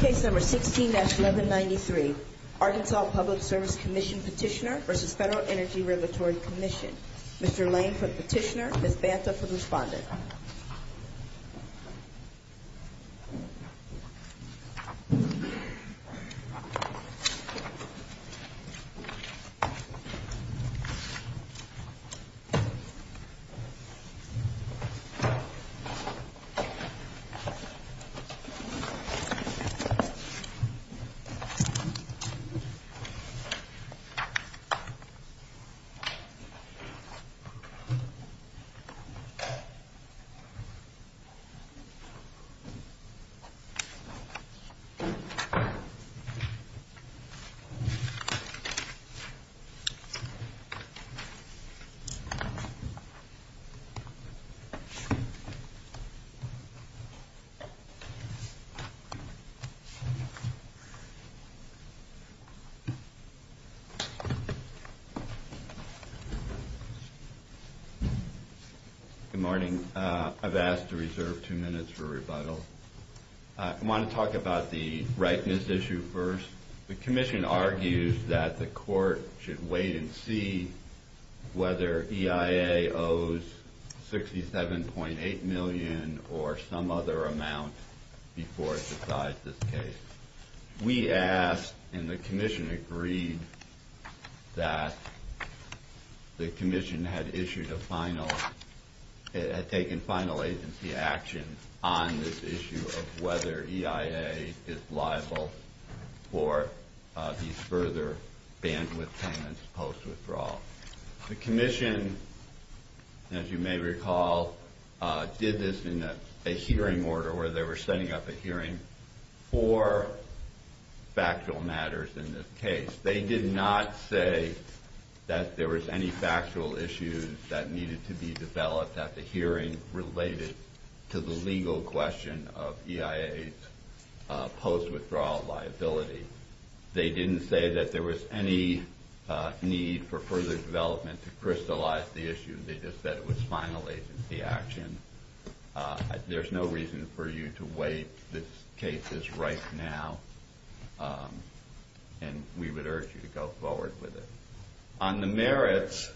Case No. 16-1193 Arkansas Public Service Commission Petitioner v. Federal Energy Regulatory Commission Mr. Lane for the petitioner, Ms. Banta for the respondent Ms. Banta for the respondent Good morning. I've asked to reserve two minutes for rebuttal. I want to talk about the rightness issue first. The Commission argues that the Court should wait and see whether EIA owes $67.8 million or some other amount before it decides this case. We asked and the Commission agreed that the Commission had taken final agency action on this issue of whether EIA is liable for these further bandwidth payments post-withdrawal. The Commission, as you may recall, did this in a hearing order where they were setting up a hearing for factual matters in this case. They did not say that there was any factual issues that needed to be developed at the hearing related to the legal question of EIA's post-withdrawal liability. They didn't say that there was any need for further development to crystallize the issue. They just said it was final agency action. There's no reason for you to wait. This case is right now and we would urge you to go forward with it. On the merits...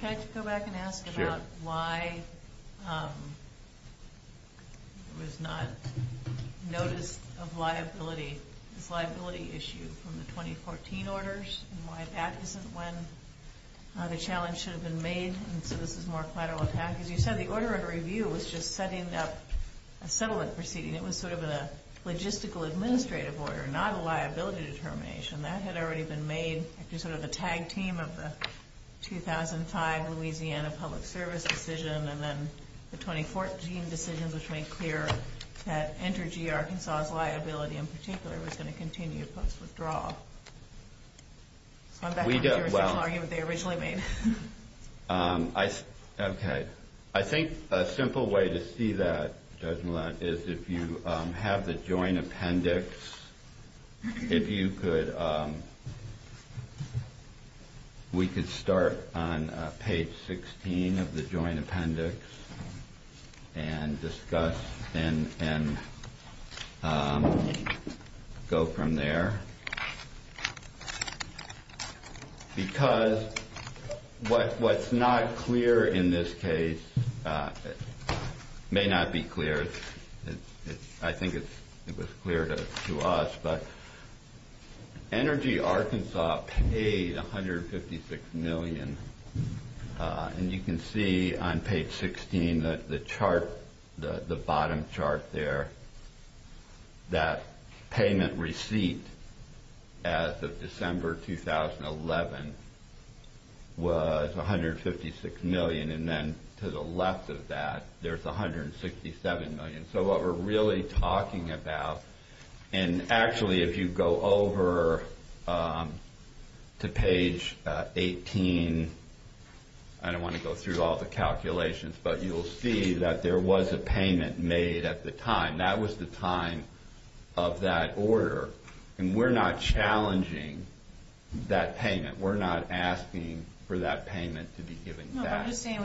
Can I just go back and ask about why there was not notice of liability, this liability issue from the 2014 orders and why that isn't when the challenge should have been made and so this is more collateral attack. As you said, the order of review was just setting up a settlement proceeding. It was sort of a logistical administrative order, not a liability determination. That had already been made. It was sort of a tag team of the 2005 Louisiana Public Service decision and then the 2014 decisions which made clear that Energy Arkansas's liability in particular was going to continue post-withdrawal. I think a simple way to see that is if you have the joint appendix, we could start on because what's not clear in this case may not be clear. I think it was clear to us, but Energy Arkansas paid $156 million and you can see on page 16, the bottom chart there, that payment receipt as of December 2011 was $156 million and then to the left of that, there's $167 million. What we're really talking about and actually if you go over to page 18, I don't want to go through all the calculations, but you'll see that there was a payment made at the time. That was the time of that order and we're not challenging that payment. We're not asking for that payment to be given back. No, but I'm just saying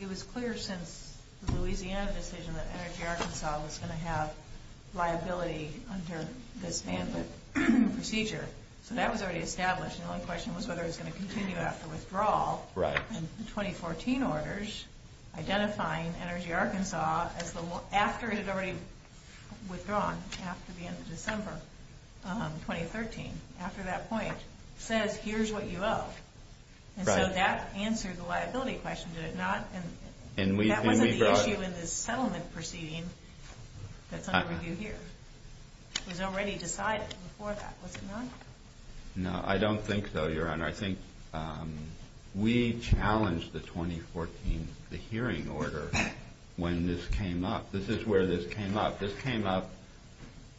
it was clear since the Louisiana decision that Energy Arkansas was going to have liability under this bandwidth procedure. So that was already established and the only question was whether it was going to continue after withdrawal. Right. And the 2014 orders identifying Energy Arkansas after it had already withdrawn after the end of December 2013, after that point, says here's what you owe. Right. And so that answered the liability question, did it not? And we brought... That wasn't the issue in the settlement proceeding that's under review here. It was already decided before that, was it not? No, I don't think so, Your Honor. I think we challenged the 2014, the hearing order when this came up. This is where this came up. This came up,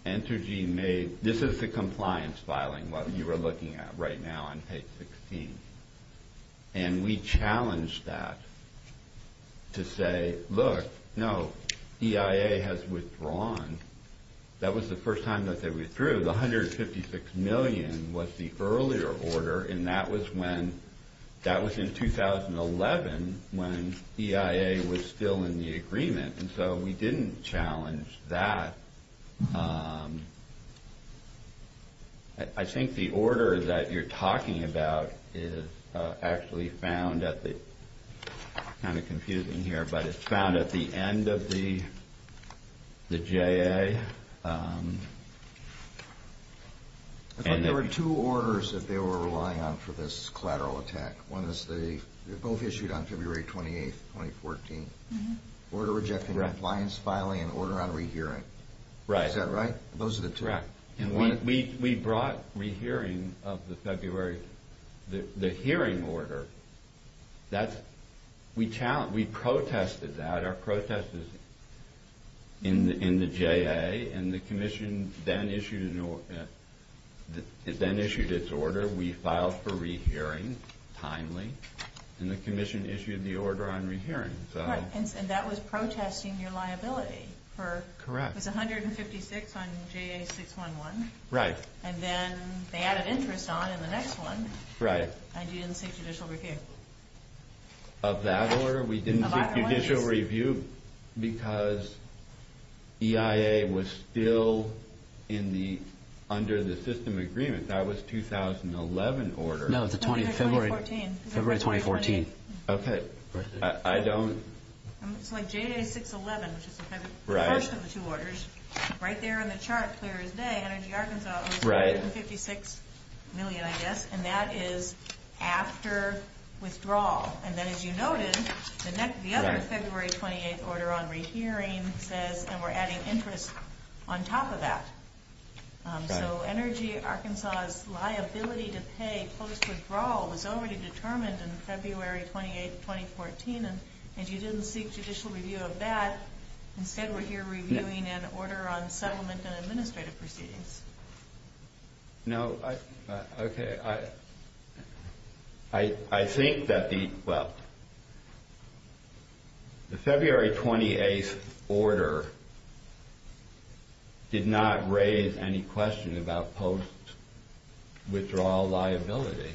Energy made... This is the compliance filing, what you are looking at right now on page 16. And we challenged that to say, look, no, EIA has withdrawn. That was the first time that they withdrew. The $156 million was the earlier order and that was in 2011 when EIA was still in the agreement. And so we didn't challenge that. I think the order that you're talking about is actually found at the... Kind of confusing here, but it's found at the end of the J.A. I thought there were two orders that they were relying on for this collateral attack. One is they both issued on February 28, 2014. Order rejecting compliance filing and order on rehearing. Right. Is that right? Those are the two. Correct. We brought rehearing of the February... The hearing order. We challenged, we protested that. Our protest is in the J.A. and the commission then issued its order. We filed for rehearing timely and the commission issued the order on rehearing. And that was protesting your liability for... Correct. It was $156 on J.A. 611. Right. And then they added interest on in the next one. Right. And you didn't seek judicial review. Of that order, we didn't seek judicial review because EIA was still under the system agreement. That was 2011 order. No, it's February 2014. Okay. I don't... It's like J.A. 611, which is the first of the two orders. Right. Right there on the chart, clear as day, Energy Arkansas owes $156 million, I guess, and that is after withdrawal. And then as you noted, the other February 28 order on rehearing says and we're adding interest on top of that. Right. So Energy Arkansas's liability to pay post withdrawal was already determined in February 28, 2014, and you didn't seek judicial review of that. Instead, we're here reviewing an order on settlement and administrative proceedings. No. Okay. I think that the... Well, the February 28 order did not raise any question about post withdrawal liability.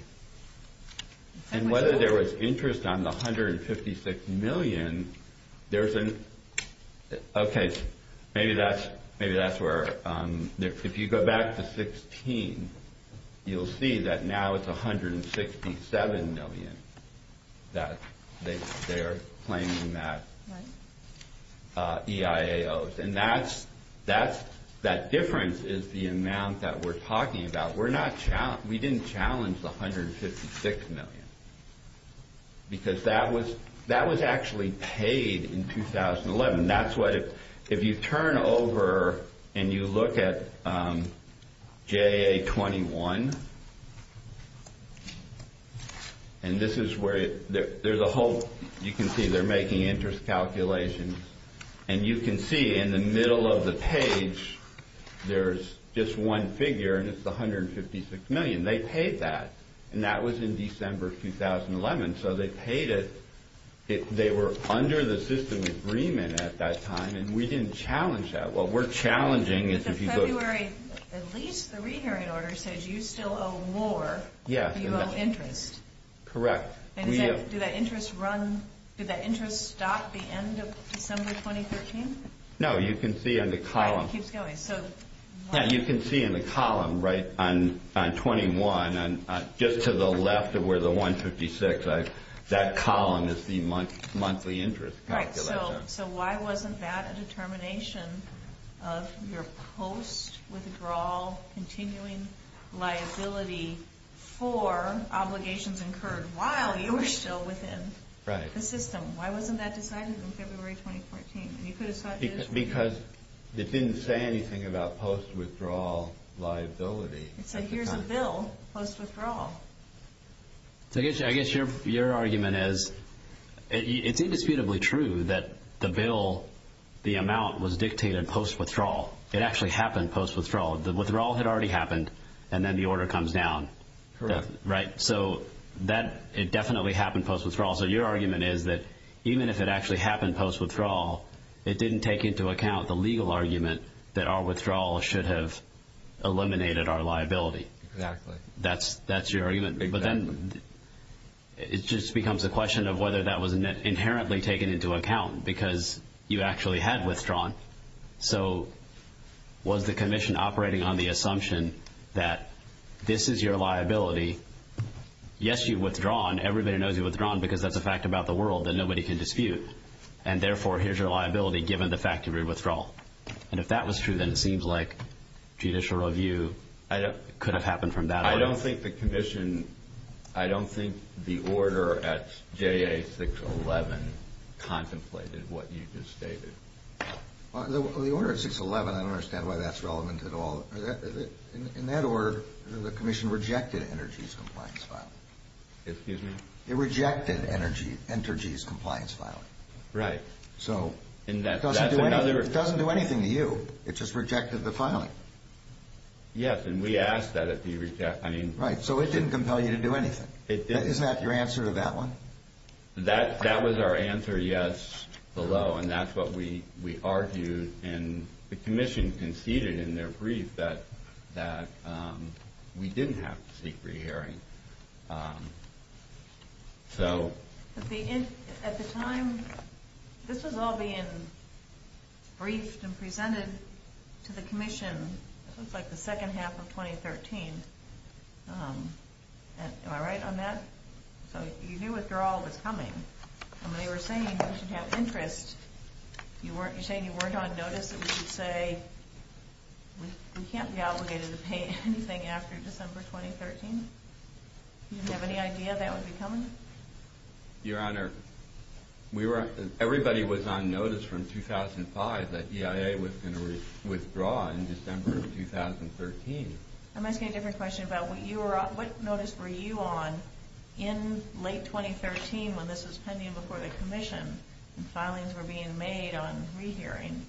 And whether there was interest on the $156 million, there's an... Okay. Maybe that's where... If you go back to 16, you'll see that now it's $167 million that they're claiming that EIA owes. Right. And that difference is the amount that we're talking about. We didn't challenge the $156 million, because that was actually paid in 2011. That's what... If you turn over and you look at JA-21, and this is where... There's a whole... You can see they're making interest calculations, and you can see in the middle of the page, there's just one figure, and that's $156 million. They paid that, and that was in December 2011. So they paid it. They were under the system agreement at that time, and we didn't challenge that. What we're challenging is if you go... But the February... At least the re-hearing order says you still owe more if you owe interest. Correct. And is that... Do that interest run... Did that interest stop at the end of December 2013? No. You can see in the column... Right. It keeps going. So... Yeah. You can see in the column, right, on 21, just to the left of where the $156, that column is the monthly interest calculation. Right. So why wasn't that a determination of your post-withdrawal continuing liability for obligations incurred while you were still within the system? Why wasn't that decided in February 2014? And you could have... Because it didn't say anything about post-withdrawal liability. It said, here's a bill, post-withdrawal. So I guess your argument is... It's indisputably true that the bill, the amount, was dictated post-withdrawal. It actually happened post-withdrawal. The withdrawal had already happened, and then the order comes down. Correct. Right? So that... It definitely happened post-withdrawal. So your argument is that even if it actually happened post-withdrawal, it didn't take into account the legal argument that our withdrawal should have eliminated our liability. Exactly. That's your argument. Exactly. But then it just becomes a question of whether that was inherently taken into account because you actually had withdrawn. So was the commission operating on the assumption that this is your liability? Yes, you've withdrawn. Everybody knows you've withdrawn because that's a fact about the world that nobody can dispute. And therefore, here's your liability given the fact of your withdrawal. And if that was true, then it seems like judicial review could have happened from that. I don't think the commission... I don't think the order at JA611 contemplated what you just stated. The order at 611, I don't understand why that's relevant at all. In that order, the commission rejected Energy's compliance file. Excuse me? It rejected Energy's compliance file. Right. So it doesn't do anything to you. It just rejected the filing. Yes, and we asked that it be rejected. Right, so it didn't compel you to do anything. Isn't that your answer to that one? That was our answer, yes, below. And that's what we argued. And the commission conceded in their brief that we didn't have to seek rehearing. At the time, this was all being briefed and presented to the commission. It was like the second half of 2013. Am I right on that? So you knew withdrawal was coming. And they were saying we should have interest. You're saying you weren't on notice that we should say we can't be obligated to pay anything after December 2013? You didn't have any idea that would be coming? Your Honor, everybody was on notice from 2005 that EIA was going to withdraw in December of 2013. I'm asking a different question about what notice were you on in late 2013 when this was pending before the commission and filings were being made on rehearing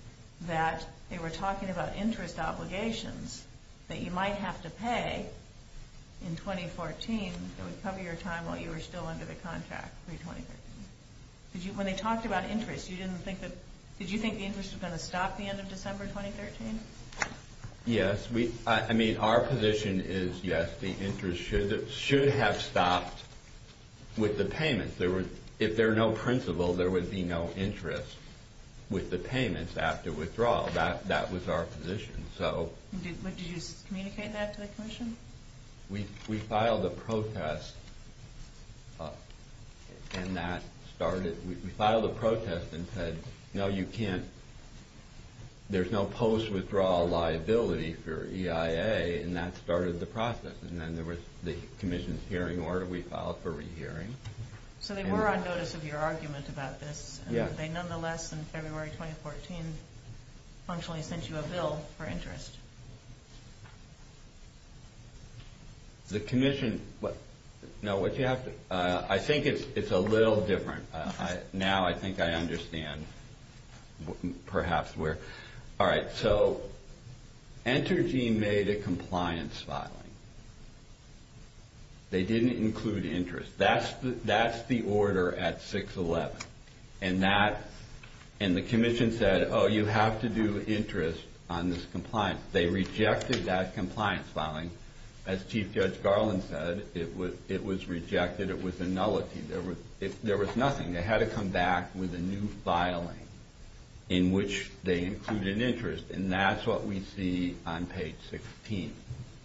that they were talking about interest obligations that you might have to pay in 2014 that would cover your time while you were still under the contract pre-2013. When they talked about interest, did you think the interest was going to stop at the end of December 2013? Yes. I mean, our position is yes, the interest should have stopped with the payments. If there were no principal, there would be no interest with the payments after withdrawal. That was our position. We filed a protest and said, no, you can't. There's no post-withdrawal liability for EIA and that started the process. And then there was the commission's hearing order we filed for rehearing. So they were on notice of your argument about this and they nonetheless in February 2014 sent you a bill for interest. The commission... No, I think it's a little different. Now I think I understand perhaps where... All right, so Enter Gene made a compliance filing. They didn't include interest. That's the order at 6-11 and the commission said, oh, you have to do interest on this compliance. They rejected that compliance filing. As Chief Judge Garland said, it was rejected. It was a nullity. There was nothing. They had to come back with a new filing in which they included interest and that's what we see on page 16.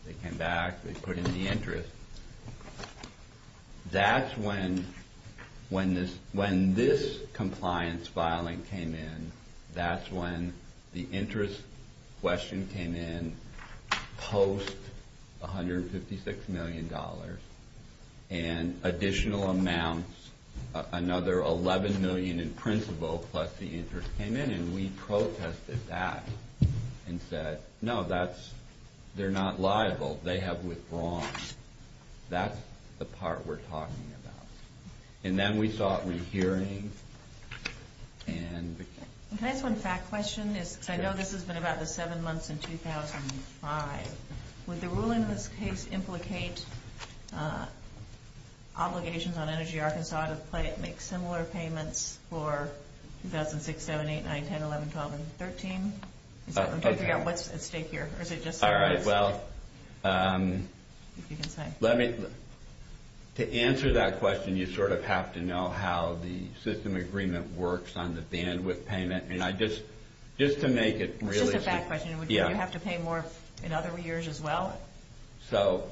They came back, they put in the interest. That's when this compliance filing came in. That's when the interest question came in post $156 million and additional amounts, another $11 million in principal plus the interest came in and we protested that and said, no, they're not liable. They have withdrawn. That's the part we're talking about. And then we saw a rehearing and... Can I ask one fact question? I know this has been about the seven months in 2005. Would the ruling in this case implicate obligations on Energy Arkansas to make similar payments for 2006, 07, 08, 09, 10, 11, 12, and 13? I'm trying to figure out what's at stake here. All right. Well, to answer that question, you have to know how the system agreement works on the bandwidth payment. Just to make it really... It's just a fact question. Would you have to pay more in other years as well? So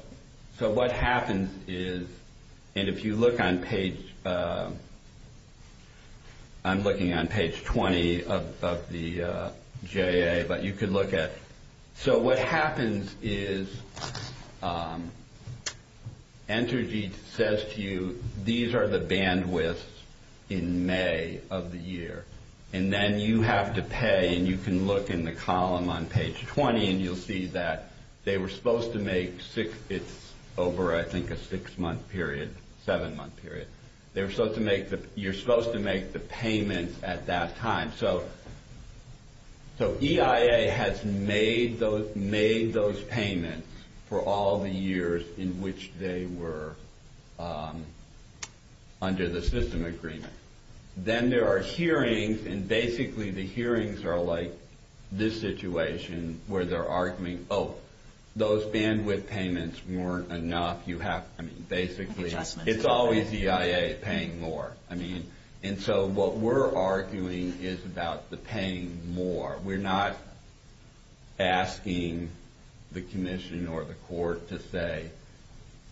what happens is, and if you look on page... I'm looking on page 20 of the JA, but you could look at... So what happens is Energy says to you, these are the bandwidths in May of the year. And then you have to pay and you can look in the column on page 20 and you'll see that they were supposed to make... It's over, I think, a six-month period, seven-month period. You're supposed to make the payments at that time. So EIA has made those payments for all the years in which they were under the system agreement. Then there are hearings and basically the hearings are like this situation where they're arguing, oh, those bandwidth payments weren't enough. Basically, it's always EIA paying more. And so what we're arguing is about the paying more. We're not asking the commission or the court to say,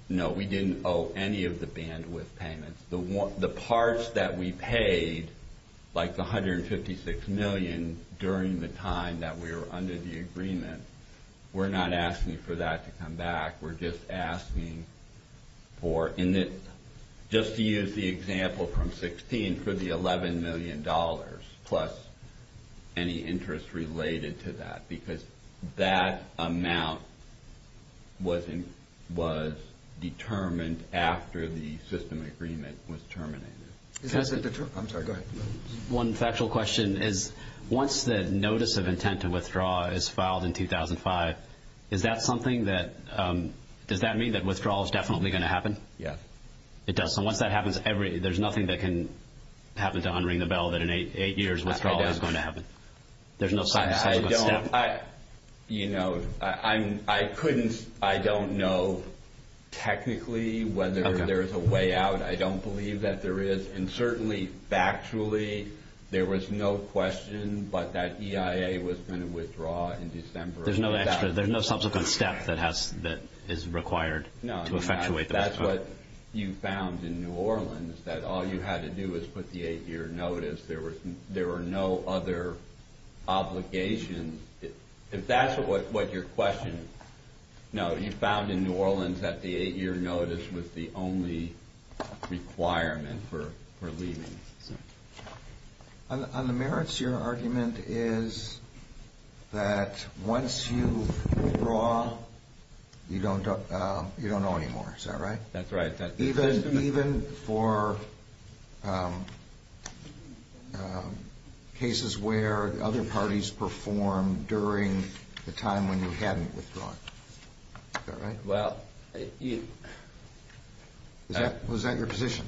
no, we didn't owe any of the bandwidth payments. The parts that we paid, like the $156 million during the time that we were under the agreement, we're not asking for that to come back. We're just asking for... Just to use the example from 16, for the $11 million plus any interest related to that, because that amount was determined after the system agreement was terminated. I'm sorry, go ahead. One factual question is once the notice of intent to withdraw is filed in 2005, is that something that... Does that mean that withdrawal is definitely going to happen? Yes. It does. So once that happens, there's nothing that can happen to unring the bell that in no subsequent step. I don't know technically whether there's a way out. I don't believe that there is. And certainly, factually, there was no question, but that EIA was going to withdraw in December of 2000. There's no subsequent step that is required to effectuate the withdrawal. No. That's what you found in New Orleans, that all you had to do was put the eight-year notice. There were no other obligations. If that's what your question... No, you found in New Orleans that the eight-year notice was the only requirement for leaving. On the merits, your argument is that once you withdraw, you don't owe anymore. Is that right? That's right. Even for cases where other parties performed during the time when you hadn't withdrawn. Is that right? Well... Was that your position?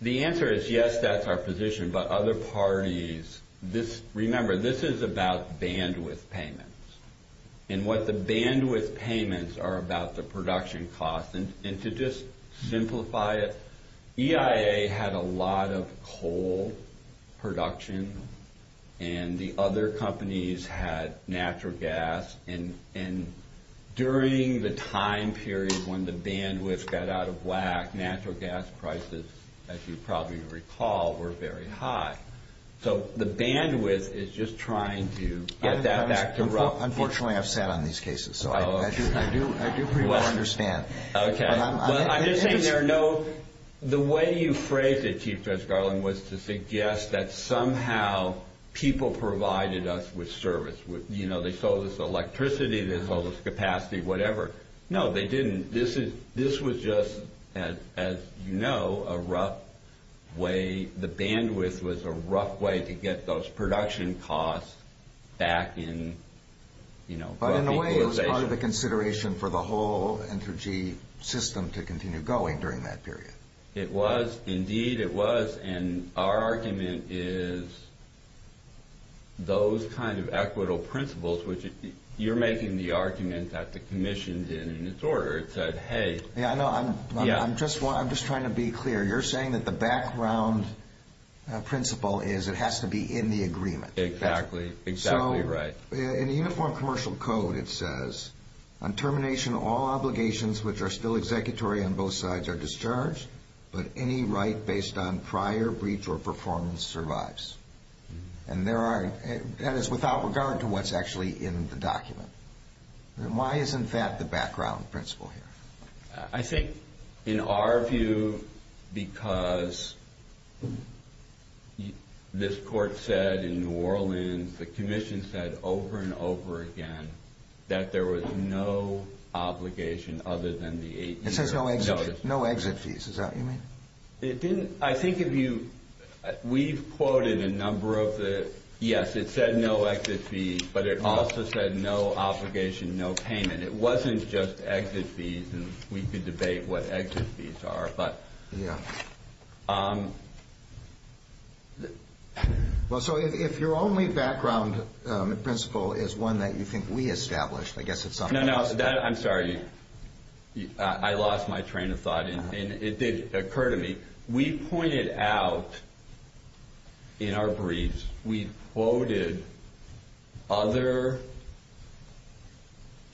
The answer is yes, that's our position, but other parties... Remember, this is about bandwidth payments, and what the bandwidth payments are about the production cost. To just simplify it, EIA had a lot of coal production, and the other companies had natural gas. During the time period when the bandwidth got out of whack, natural gas prices, as you probably recall, were very high. The bandwidth is just trying to get that back to rough. Unfortunately, I've sat on these cases, so I do pretty well understand. I'm just saying the way you phrased it, Chief Judge Garland, was to suggest that somehow people provided us with service. They sold us electricity, they sold us capacity, whatever. No, they didn't. This was just, as you know, a rough way. The bandwidth was a rough way to get those production costs back in. But in a way, it was part of the consideration for the whole Entergy system to continue going during that period. It was. Indeed, it was. Our argument is those kind of equitable principles, which you're making the argument that the Commission did in its order. I'm just trying to be clear. You're saying that the background principle is it has to be in the agreement. Exactly. Exactly right. In the Uniform Commercial Code, it says, on termination, all obligations which are still executory on both sides are discharged, but any right based on prior breach or performance survives. And that is without regard to what's actually in the document. Why isn't that the background principle here? I think, in our view, because this Court said in New Orleans, the Commission said over and over again, that there was no obligation other than the eight years. It says no exit fees. Is that what you mean? I think if you... We've quoted a number of the... Yes, it said no exit fees, but it also said no obligation, no payment. It wasn't just exit fees, and we could debate what exit fees are. Well, so if your only background principle is one that you think we established, I guess it's something else. No, no. I'm sorry. I lost my train of thought. It did occur to me. We pointed out in our briefs, we quoted other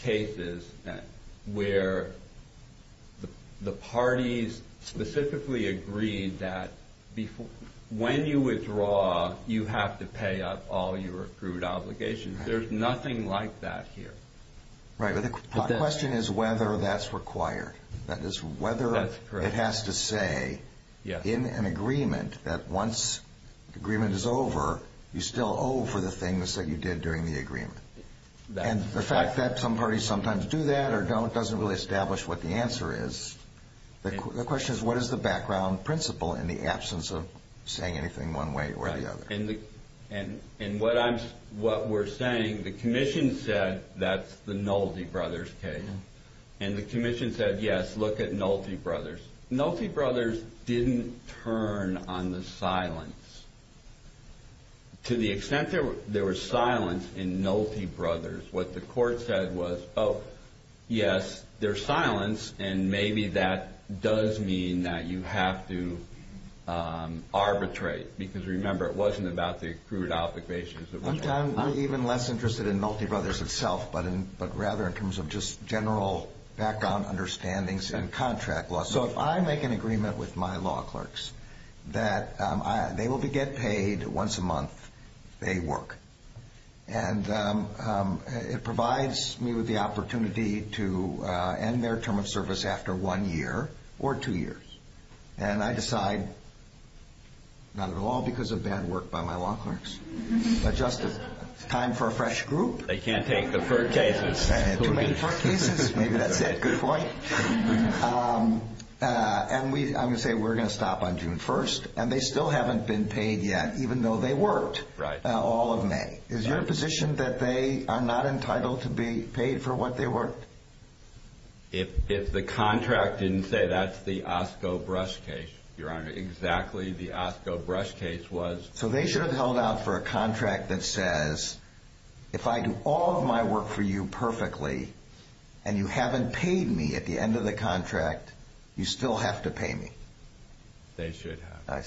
cases where the parties specifically agreed that when you withdraw, you have to pay up all your accrued obligations. There's nothing like that here. Right, but the question is whether that's required. That is, whether it has to say in an agreement that once the agreement is over, you still owe for the things that you did during the agreement. That's correct. And the fact that some parties sometimes do that or don't doesn't really establish what the answer is. The question is, what is the background principle in the absence of saying anything one way or the other? And what we're saying, the commission said that's the Nolte brothers case. And the commission said, yes, look at Nolte brothers. Nolte brothers didn't turn on the silence. To the extent there was silence in Nolte brothers, what the court said was, oh, yes, there's silence, and maybe that does mean that you have to arbitrate. Because remember, it wasn't about the accrued obligations. I'm even less interested in Nolte brothers itself, but rather in terms of just general background understandings in contract law. So if I make an agreement with my law clerks that they will be get paid once a month if they work. And it provides me with the opportunity to end their term of service after one year or two years. And I decide, not at all because of bad work by my law clerks. But just as time for a fresh group. They can't take deferred cases. Too many deferred cases. Maybe that's it. Good point. And I'm going to say we're going to stop on June 1st. And they still haven't been paid yet, even though they worked all of May. Is your position that they are not entitled to be paid for what they worked? If the contract didn't say that, that's the Osco brush case, Your Honor. Exactly the Osco brush case was. So they should have held out for a contract that says, if I do all of my work for you perfectly, and you haven't paid me at the end of the contract, you still have to pay me. They should have.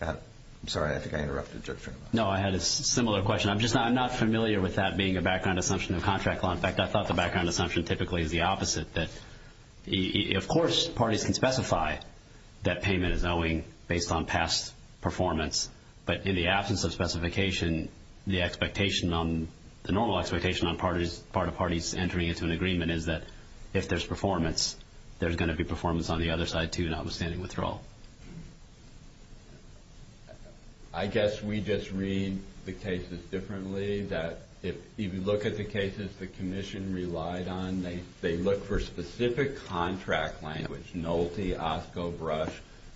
I'm sorry. I think I interrupted you. No, I had a similar question. I'm just not familiar with that being a background assumption of contract law. In fact, I thought the background assumption typically is the opposite. That, of course, parties can specify that payment is owing based on past performance. But in the absence of specification, the expectation, the normal expectation on part of parties entering into an agreement is that if there's performance, there's going to be performance on the other side, too, notwithstanding withdrawal. I guess we just read the cases differently. If you look at the cases the commission relied on, they look for specific contract language, Nolte, Osco brush,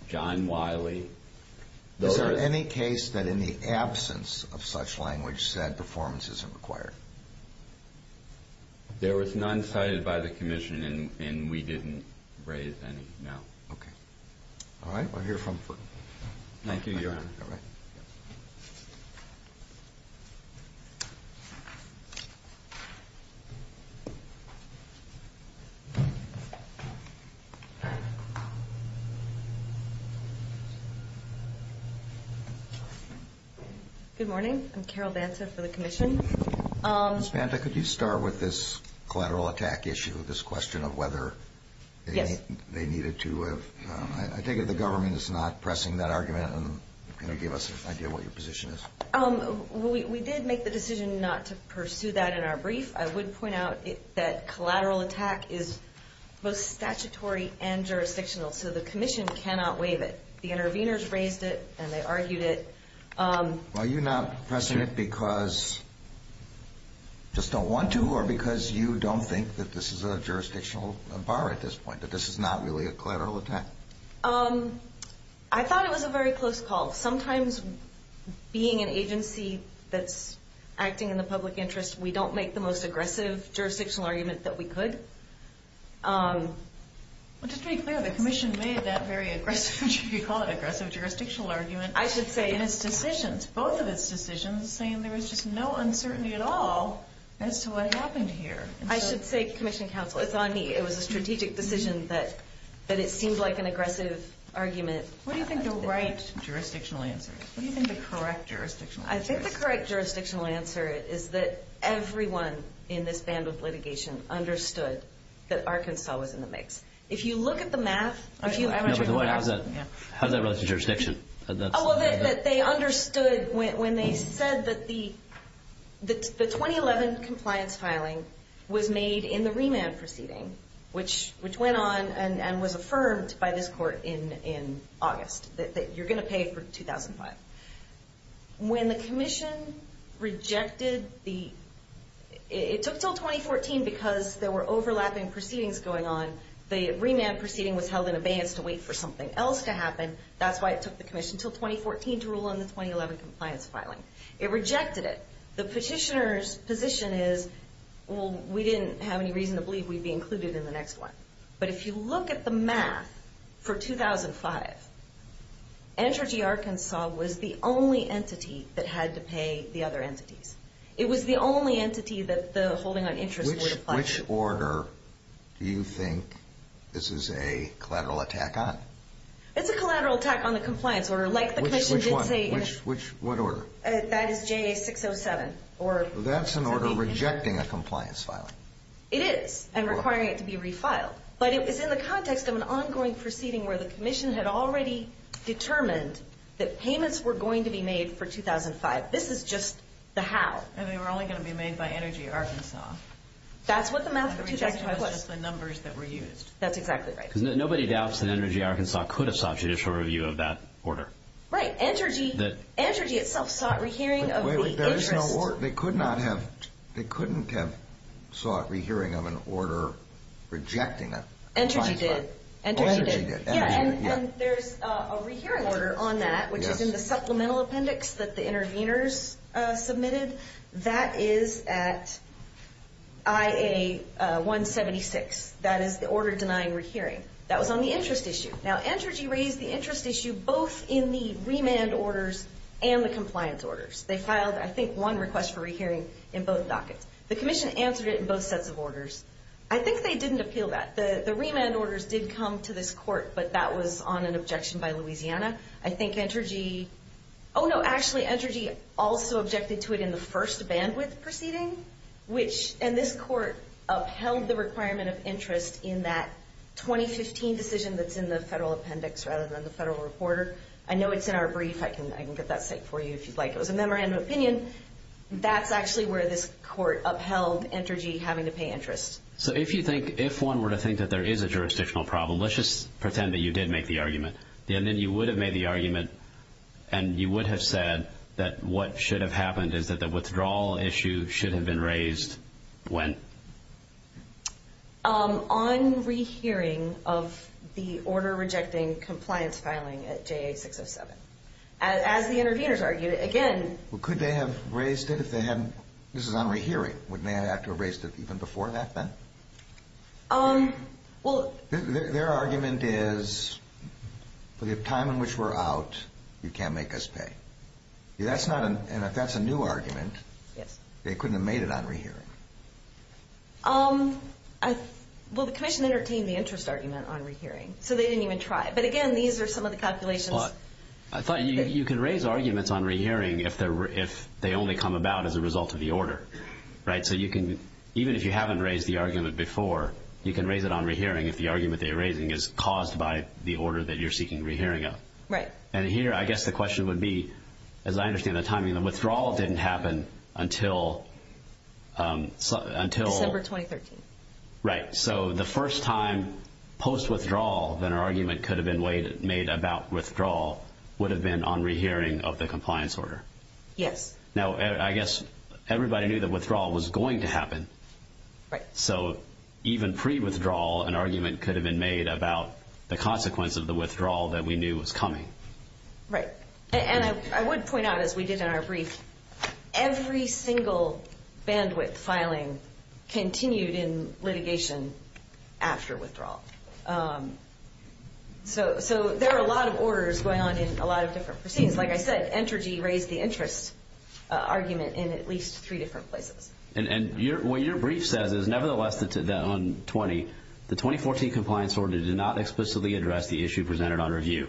John Wiley. Is there any case that in the absence of such language said performance isn't required? There was none cited by the commission, and we didn't raise any, no. Okay. All right. We'll hear from you. Thank you, Your Honor. All right. Good morning. I'm Carol Banta for the commission. Ms. Banta, could you start with this collateral attack issue, this question of whether they needed to have, I take it the government is not pressing that argument and gave us an idea of what your position is. We did make the decision not to pursue that in our brief. I would point out that collateral attack is both statutory and jurisdictional, so the commission cannot waive it. The interveners raised it, and they argued it. Are you not pressing it because you just don't want to or because you don't think that this is a jurisdictional bar at this point, that this is not really a collateral attack? I thought it was a very close call. Sometimes being an agency that's acting in the public interest, we don't make the most aggressive jurisdictional argument that we could. Well, just to be clear, the commission made that very aggressive, if you call it aggressive jurisdictional argument in its decisions, both of its decisions, saying there was just no uncertainty at all as to what happened here. I should say commission counsel, it's on me. It was a strategic decision that it seemed like an aggressive argument. What do you think the right jurisdictional answer is? What do you think the correct jurisdictional answer is? I think the correct jurisdictional answer is that everyone in this band of litigation understood that Arkansas was in the mix. If you look at the math... How does that relate to jurisdiction? They understood when they said that the 2011 compliance filing was made in the remand proceeding, which went on and was affirmed by this court in August, that you're going to pay for 2005. When the commission rejected the... It took until 2014 because there were overlapping proceedings going on. The remand proceeding was held in abeyance to wait for something else to happen. That's why it took the commission until 2014 to rule on the 2011 compliance filing. It rejected it. The petitioner's position is, well, we didn't have any reason to believe we'd be included in the next one. But if you look at the math for 2005, Andrew G. Arkansas was the only entity that had to pay the other entities. It was the only entity that the holding on interest would apply to. Which order do you think this is a collateral attack on? It's a collateral attack on the compliance order, like the commission did say... Which one? What order? That is JA 607. That's an order rejecting a compliance filing. It is, and requiring it to be refiled. But it was in the context of an ongoing proceeding where the commission had already determined that payments were going to be made for 2005. This is just the how. And they were only going to be made by Energy Arkansas. That's what the math for 2005 was. And the rejection was just the numbers that were used. That's exactly right. Because nobody doubts that Energy Arkansas could have sought judicial review of that order. Right. Energy itself sought re-hearing of the interest. They couldn't have sought re-hearing of an order rejecting it. Energy did. Energy did. Yeah, and there's a re-hearing order on that, which is in the supplemental appendix that the interveners submitted. That is at IA 176. That is the order denying re-hearing. That was on the interest issue. Now, Entergy raised the interest issue both in the remand orders and the compliance orders. They filed, I think, one request for re-hearing in both dockets. The commission answered it in both sets of orders. I think they didn't appeal that. The remand orders did come to this court, but that was on an objection by Louisiana. I think Entergy also objected to it in the first bandwidth proceeding, which this court upheld the requirement of interest in that 2015 decision that's in the federal appendix rather than the federal reporter. I know it's in our brief. I can get that cited for you if you'd like. It was a memorandum of opinion. That's actually where this court upheld Entergy having to pay interest. If one were to think that there is a jurisdictional problem, let's just pretend that you did make the argument. Then you would have made the argument, and you would have said that what should have happened is that the withdrawal issue should have been raised when? On re-hearing of the order rejecting compliance filing at JA-607. As the interveners argued, again. Well, could they have raised it if they hadn't? This is on re-hearing. Wouldn't they have to have raised it even before that then? Their argument is, for the time in which we're out, you can't make us pay. If that's a new argument, they couldn't have made it on re-hearing. Well, the commission entertained the interest argument on re-hearing, so they didn't even try it. But, again, these are some of the calculations. I thought you could raise arguments on re-hearing if they only come about as a result of the order. Even if you haven't raised the argument before, you can raise it on re-hearing if the argument they're raising is caused by the order that you're seeking re-hearing of. And here, I guess the question would be, as I understand the timing, the withdrawal didn't happen until December 2013. Right. So the first time post-withdrawal that an argument could have been made about withdrawal would have been on re-hearing of the compliance order. Yes. Now, I guess everybody knew that withdrawal was going to happen. Right. So even pre-withdrawal, an argument could have been made about the consequence of the withdrawal that we knew was coming. Right. And I would point out, as we did in our brief, every single bandwidth filing continued in litigation after withdrawal. So there are a lot of orders going on in a lot of different proceedings. Like I said, Entergy raised the interest argument in at least three different places. And what your brief says is, nevertheless, on 20, the 2014 compliance order did not explicitly address the issue presented on review,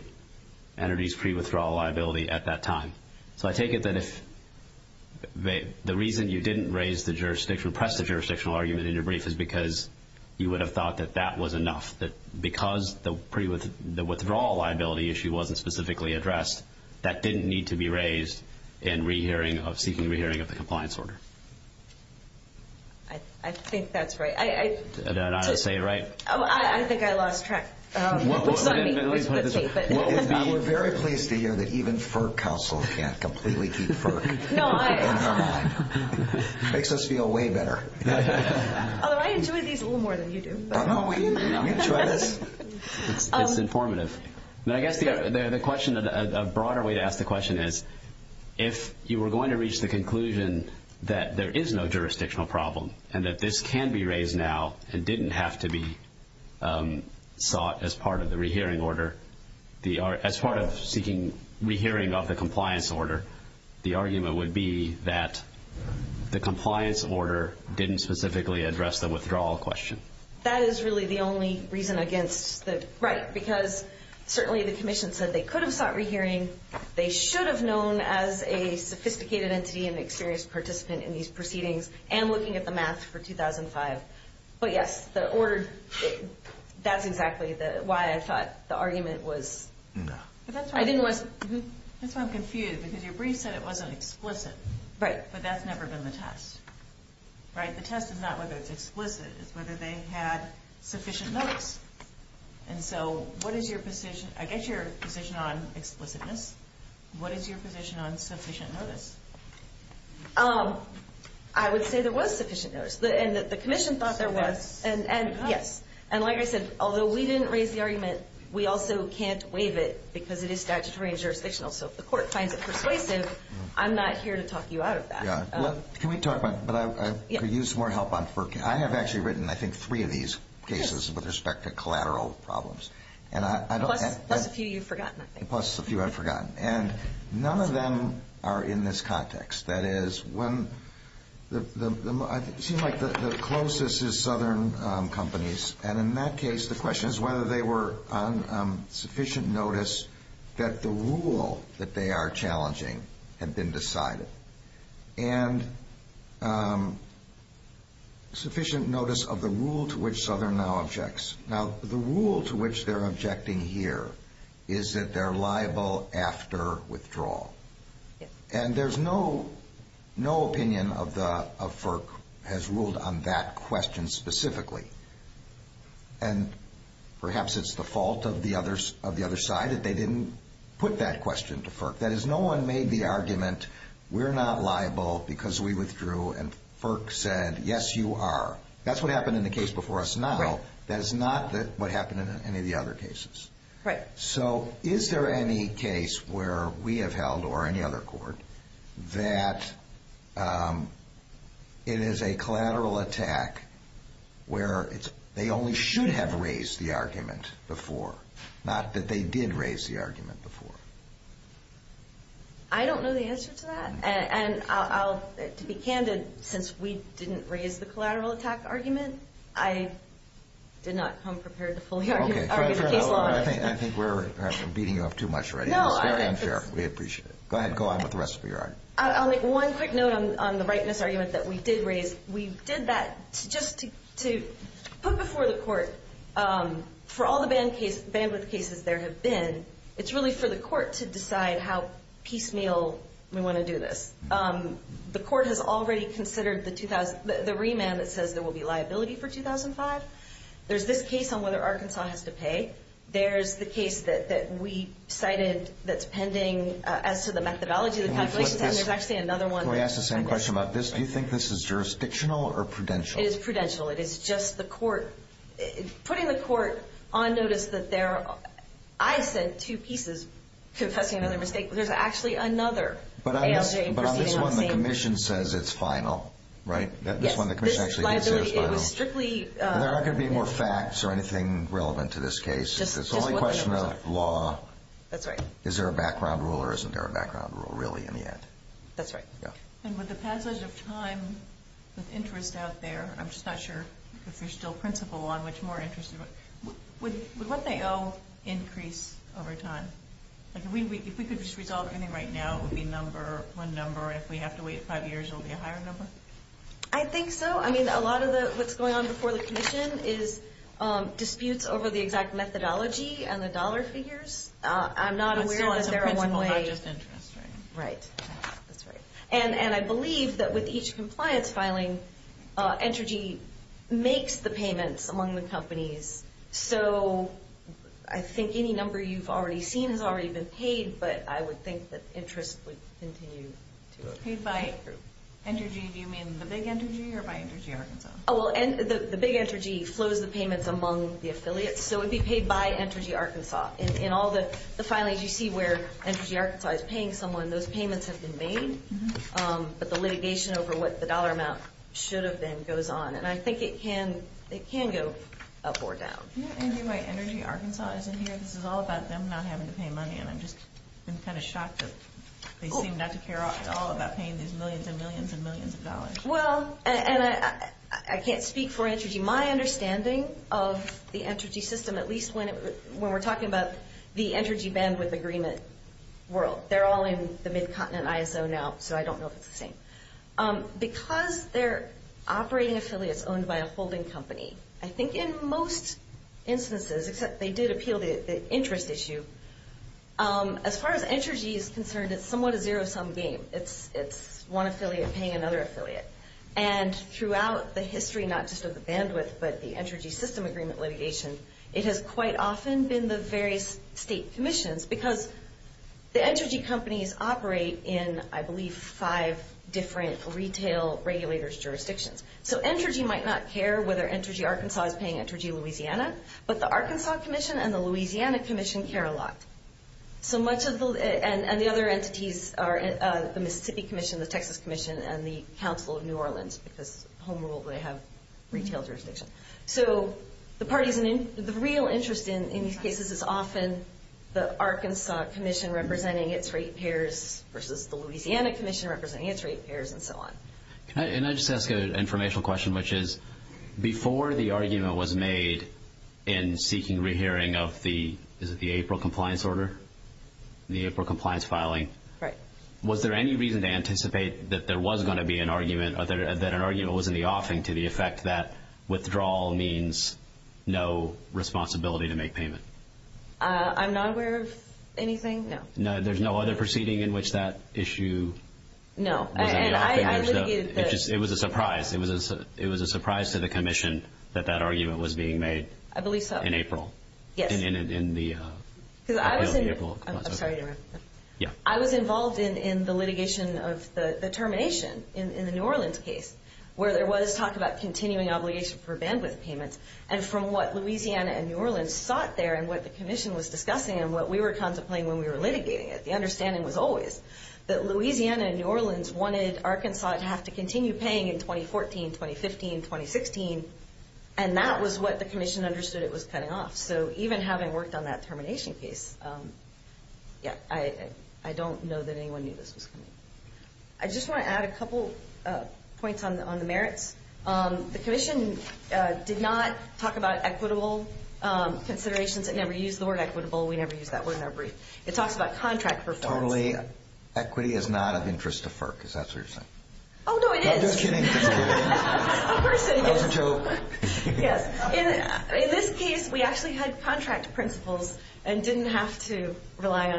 Entergy's pre-withdrawal liability at that time. So I take it that if the reason you didn't press the jurisdictional argument in your brief is because you would have thought that that was enough, that because the withdrawal liability issue wasn't specifically addressed, that didn't need to be raised in seeking re-hearing of the compliance order. I think that's right. Did I not say it right? I think I lost track. Let me put it this way. We're very pleased to hear that even FERC counsel can't completely keep FERC in their mind. It makes us feel way better. Although I enjoy these a little more than you do. Don't we? It's informative. I guess the question, a broader way to ask the question is, if you were going to reach the conclusion that there is no jurisdictional problem and that this can be raised now and didn't have to be sought as part of the re-hearing order, as part of seeking re-hearing of the compliance order, the argument would be that the compliance order didn't specifically address the withdrawal question. That is really the only reason against the right, because certainly the Commission said they could have sought re-hearing, they should have known as a sophisticated entity and experienced participant in these proceedings, and looking at the math for 2005. But yes, the order, that's exactly why I thought the argument was. That's why I'm confused, because your brief said it wasn't explicit. But that's never been the test. The test is not whether it's explicit, it's whether they had sufficient notice. And so what is your position? I get your position on explicitness. What is your position on sufficient notice? I would say there was sufficient notice. The Commission thought there was. And like I said, although we didn't raise the argument, we also can't waive it because it is statutory and jurisdictional. So if the court finds it persuasive, I'm not here to talk you out of that. Can we talk about it? But I could use more help on FERC. I have actually written, I think, three of these cases with respect to collateral problems. Plus a few you've forgotten, I think. Plus a few I've forgotten. And none of them are in this context. That is, it seems like the closest is Southern companies. And in that case, the question is whether they were on sufficient notice that the rule that they are challenging had been decided. And sufficient notice of the rule to which Southern now objects. Now, the rule to which they're objecting here is that they're liable after withdrawal. And there's no opinion of FERC as ruled on that question specifically. And perhaps it's the fault of the other side that they didn't put that question to FERC. That is, no one made the argument, we're not liable because we withdrew. And FERC said, yes, you are. That's what happened in the case before us now. That is not what happened in any of the other cases. Right. So is there any case where we have held, or any other court, that it is a collateral attack where they only should have raised the argument before? Not that they did raise the argument before. I don't know the answer to that. And to be candid, since we didn't raise the collateral attack argument, I did not come prepared to fully argue the case law. I think we're beating you off too much already. It's very unfair. We appreciate it. Go ahead. Go on with the rest of your argument. I'll make one quick note on the rightness argument that we did raise. We did that just to put before the court, for all the bandwidth cases there have been, it's really for the court to decide how piecemeal we want to do this. The court has already considered the remand that says there will be liability for 2005. There's this case on whether Arkansas has to pay. There's the case that we cited that's pending as to the methodology. There's actually another one. Can I ask the same question about this? Do you think this is jurisdictional or prudential? It is prudential. It is just the court. Putting the court on notice that there are, I said two pieces, confessing another mistake. There's actually another ALJ proceeding on the same. But on this one, the commission says it's final, right? Yes. There aren't going to be more facts or anything relevant to this case. It's only a question of law. That's right. Is there a background rule or isn't there a background rule, really, in the end? That's right. With the passage of time, with interest out there, I'm just not sure if there's still principle on which more interest. Would what they owe increase over time? If we could just resolve anything right now, it would be one number. If we have to wait five years, it will be a higher number? I think so. I mean, a lot of what's going on before the commission is disputes over the exact methodology and the dollar figures. I'm not aware that there are one way. But still, as a principle, not just interest, right? Right. That's right. And I believe that with each compliance filing, Entergy makes the payments among the companies. So I think any number you've already seen has already been paid, but I would think that interest would continue to increase. And by Entergy, do you mean the big Entergy or by Entergy Arkansas? Oh, well, the big Entergy flows the payments among the affiliates. So it would be paid by Entergy Arkansas. In all the filings, you see where Entergy Arkansas is paying someone. Those payments have been made. But the litigation over what the dollar amount should have been goes on. And I think it can go up or down. Yeah, Entergy Arkansas is in here. This is all about them not having to pay money. I'm kind of shocked that they seem not to care at all about paying these millions and millions and millions of dollars. Well, and I can't speak for Entergy. My understanding of the Entergy system, at least when we're talking about the Entergy bandwidth agreement world, they're all in the mid-continent ISO now, so I don't know if it's the same. Because they're operating affiliates owned by a holding company, I think in most instances, except they did appeal the interest issue. As far as Entergy is concerned, it's somewhat a zero-sum game. It's one affiliate paying another affiliate. And throughout the history, not just of the bandwidth, but the Entergy system agreement litigation, it has quite often been the various state commissions. Because the Entergy companies operate in, I believe, five different retail regulators' jurisdictions. So Entergy might not care whether Entergy Arkansas is paying Entergy Louisiana, but the Arkansas Commission and the Louisiana Commission care a lot. And the other entities are the Mississippi Commission, the Texas Commission, and the Council of New Orleans. Because home rule, they have retail jurisdiction. So the real interest in these cases is often the Arkansas Commission representing its rate payers versus the Louisiana Commission representing its rate payers and so on. Can I just ask an informational question, which is, before the argument was made in seeking re-hearing of the April compliance order, the April compliance filing, was there any reason to anticipate that there was going to be an argument, that an argument was in the offing to the effect that withdrawal means no responsibility to make payment? I'm not aware of anything, no. There's no other proceeding in which that issue was in the offing? It was a surprise. It was a surprise to the Commission that that argument was being made in April. I believe so. Yes. I was involved in the litigation of the termination in the New Orleans case, where there was talk about continuing obligation for bandwidth payments. And from what Louisiana and New Orleans sought there and what the Commission was discussing and what we were contemplating when we were litigating it, the understanding was always that Louisiana and New Orleans wanted Arkansas to have to continue paying in 2014, 2015, 2016. And that was what the Commission understood it was cutting off. So even having worked on that termination case, I don't know that anyone knew this was coming. I just want to add a couple points on the merits. The Commission did not talk about equitable considerations. It never used the word equitable. We never used that word in our brief. It talks about contract performance. Totally. Equity is not of interest to FERC, is that what you're saying? Oh, no, it is. No, just kidding. Just kidding. Of course it is. That was a joke. Yes. In this case, we actually had contract principles and didn't have to rely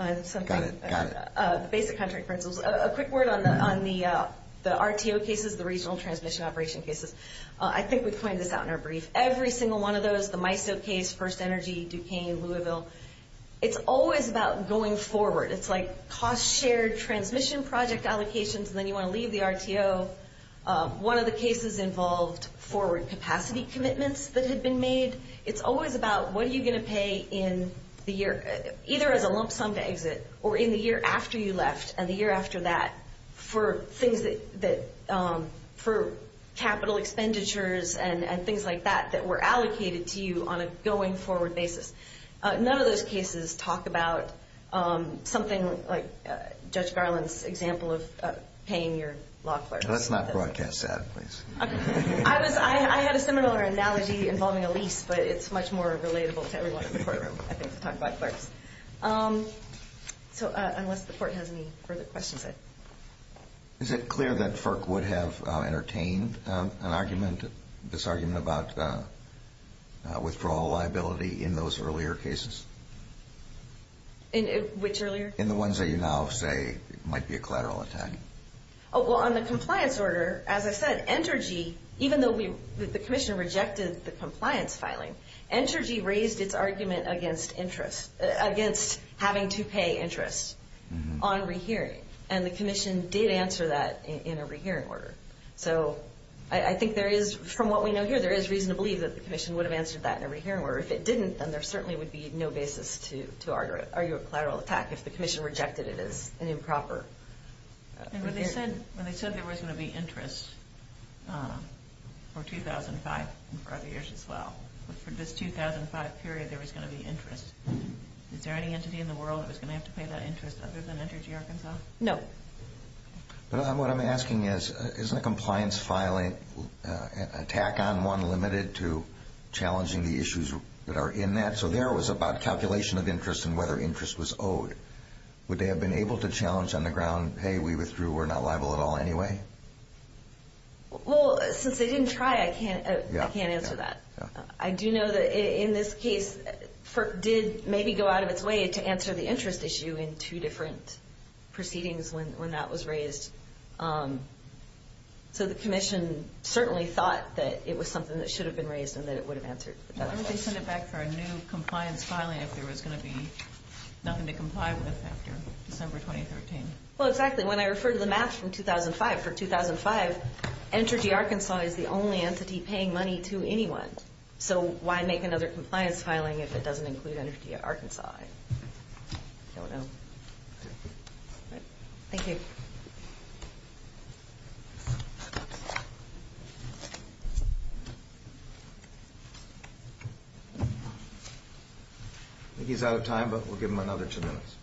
on something. Got it. Got it. The basic contract principles. A quick word on the RTO cases, the Regional Transmission Operation cases. I think we've pointed this out in our brief. Every single one of those, the MISO case, First Energy, Duquesne, Louisville, it's always about going forward. It's like cost-shared transmission project allocations, and then you want to leave the RTO. One of the cases involved forward capacity commitments that had been made. It's always about what are you going to pay in the year, either as a lump sum to exit, or in the year after you left, and the year after that, for capital expenditures and things like that that were allocated to you on a going-forward basis. None of those cases talk about something like Judge Garland's example of paying your law clerks. Let's not broadcast that, please. I had a similar analogy involving a lease, but it's much more relatable to everyone in the courtroom, I think, to talk about clerks. Unless the court has any further questions. Is it clear that FERC would have entertained this argument about withdrawal liability in those earlier cases? In which earlier? In the ones that you now say might be a collateral attack. Well, on the compliance order, as I said, Entergy, even though the Commissioner rejected the compliance filing, Entergy raised its argument against interest, against having to pay interest on rehearing. And the Commission did answer that in a rehearing order. So I think there is, from what we know here, there is reason to believe that the Commission would have answered that in a rehearing order. If it didn't, then there certainly would be no basis to argue a collateral attack if the Commission rejected it as an improper. And when they said there was going to be interest for 2005 and for other years as well, for this 2005 period there was going to be interest, is there any entity in the world that was going to have to pay that interest other than Entergy Arkansas? No. What I'm asking is, isn't a compliance filing attack on one limited to challenging the issues that are in that? So there it was about calculation of interest and whether interest was owed. Would they have been able to challenge on the ground, hey, we withdrew, we're not liable at all anyway? Well, since they didn't try, I can't answer that. I do know that in this case FERC did maybe go out of its way to answer the interest issue in two different proceedings when that was raised. So the Commission certainly thought that it was something that should have been raised and that it would have answered. Why would they send it back for a new compliance filing if there was going to be nothing to comply with after December 2013? Well, exactly. When I refer to the math from 2005, for 2005 Entergy Arkansas is the only entity paying money to anyone. So why make another compliance filing if it doesn't include Entergy Arkansas? I don't know. Thank you. I think he's out of time, but we'll give him another two minutes.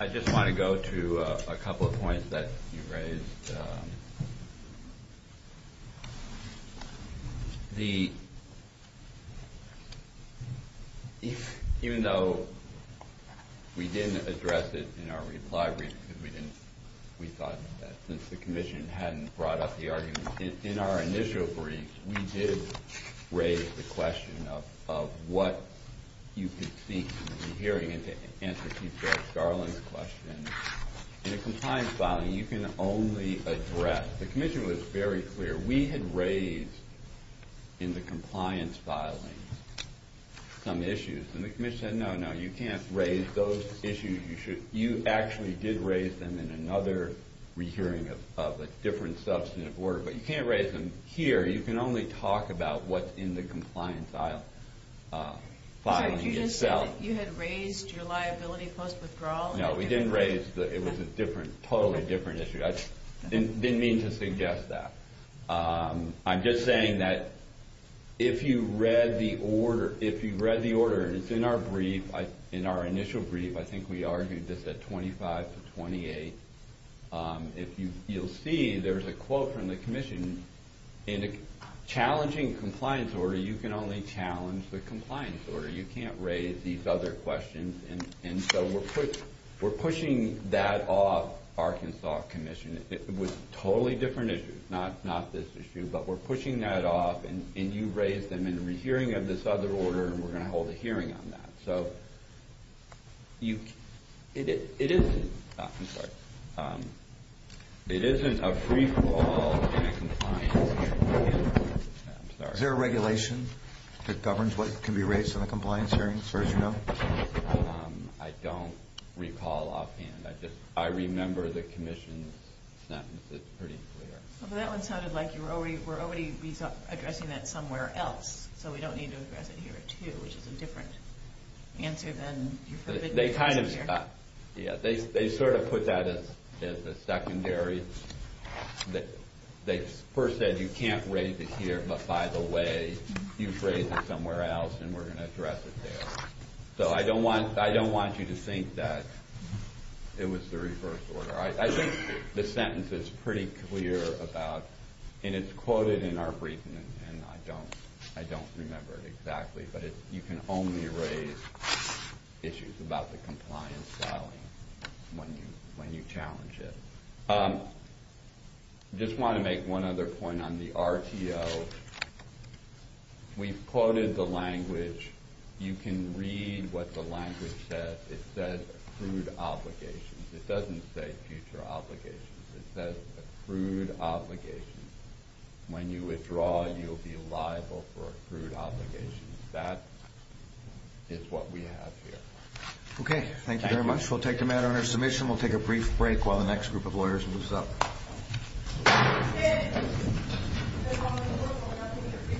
I just want to go to a couple of points that you raised. Even though we didn't address it in our reply brief, we thought that since the Commission hadn't brought up the argument, in our initial brief, we did raise the question of what you could see in the hearing and to answer Chief Judge Garland's question. In a compliance filing, you can only address. The Commission was very clear. We had raised in the compliance filing some issues. And the Commission said, no, no, you can't raise those issues. You actually did raise them in another re-hearing of a different substantive order. But you can't raise them here. You can only talk about what's in the compliance filing itself. You just said that you had raised your liability post-withdrawal. No, we didn't raise that. It was a totally different issue. I didn't mean to suggest that. I'm just saying that if you read the order, it's in our initial brief. I think we argued this at 25 to 28. You'll see there's a quote from the Commission. In a challenging compliance order, you can only challenge the compliance order. You can't raise these other questions. And so we're pushing that off Arkansas Commission. It was a totally different issue, not this issue. But we're pushing that off. And you raised them in a re-hearing of this other order. And we're going to hold a hearing on that. It isn't a free fall in a compliance hearing. Is there a regulation that governs what can be raised in a compliance hearing, as far as you know? I don't recall offhand. I remember the Commission's sentence. It's pretty clear. Well, that one sounded like you were already addressing that somewhere else. So we don't need to address it here, too, which is a different answer than you forbid to address it here. They sort of put that as a secondary. They first said you can't raise it here. But by the way, you've raised it somewhere else. And we're going to address it there. So I don't want you to think that it was the reverse order. I think the sentence is pretty clear about, and it's quoted in our briefing, and I don't remember it exactly. But you can only raise issues about the compliance filing when you challenge it. I just want to make one other point on the RTO. We've quoted the language. You can read what the language says. It says accrued obligations. It doesn't say future obligations. It says accrued obligations. When you withdraw, you'll be liable for accrued obligations. That is what we have here. Okay. Thank you very much. We'll take the matter under submission. We'll take a brief break while the next group of lawyers moves up.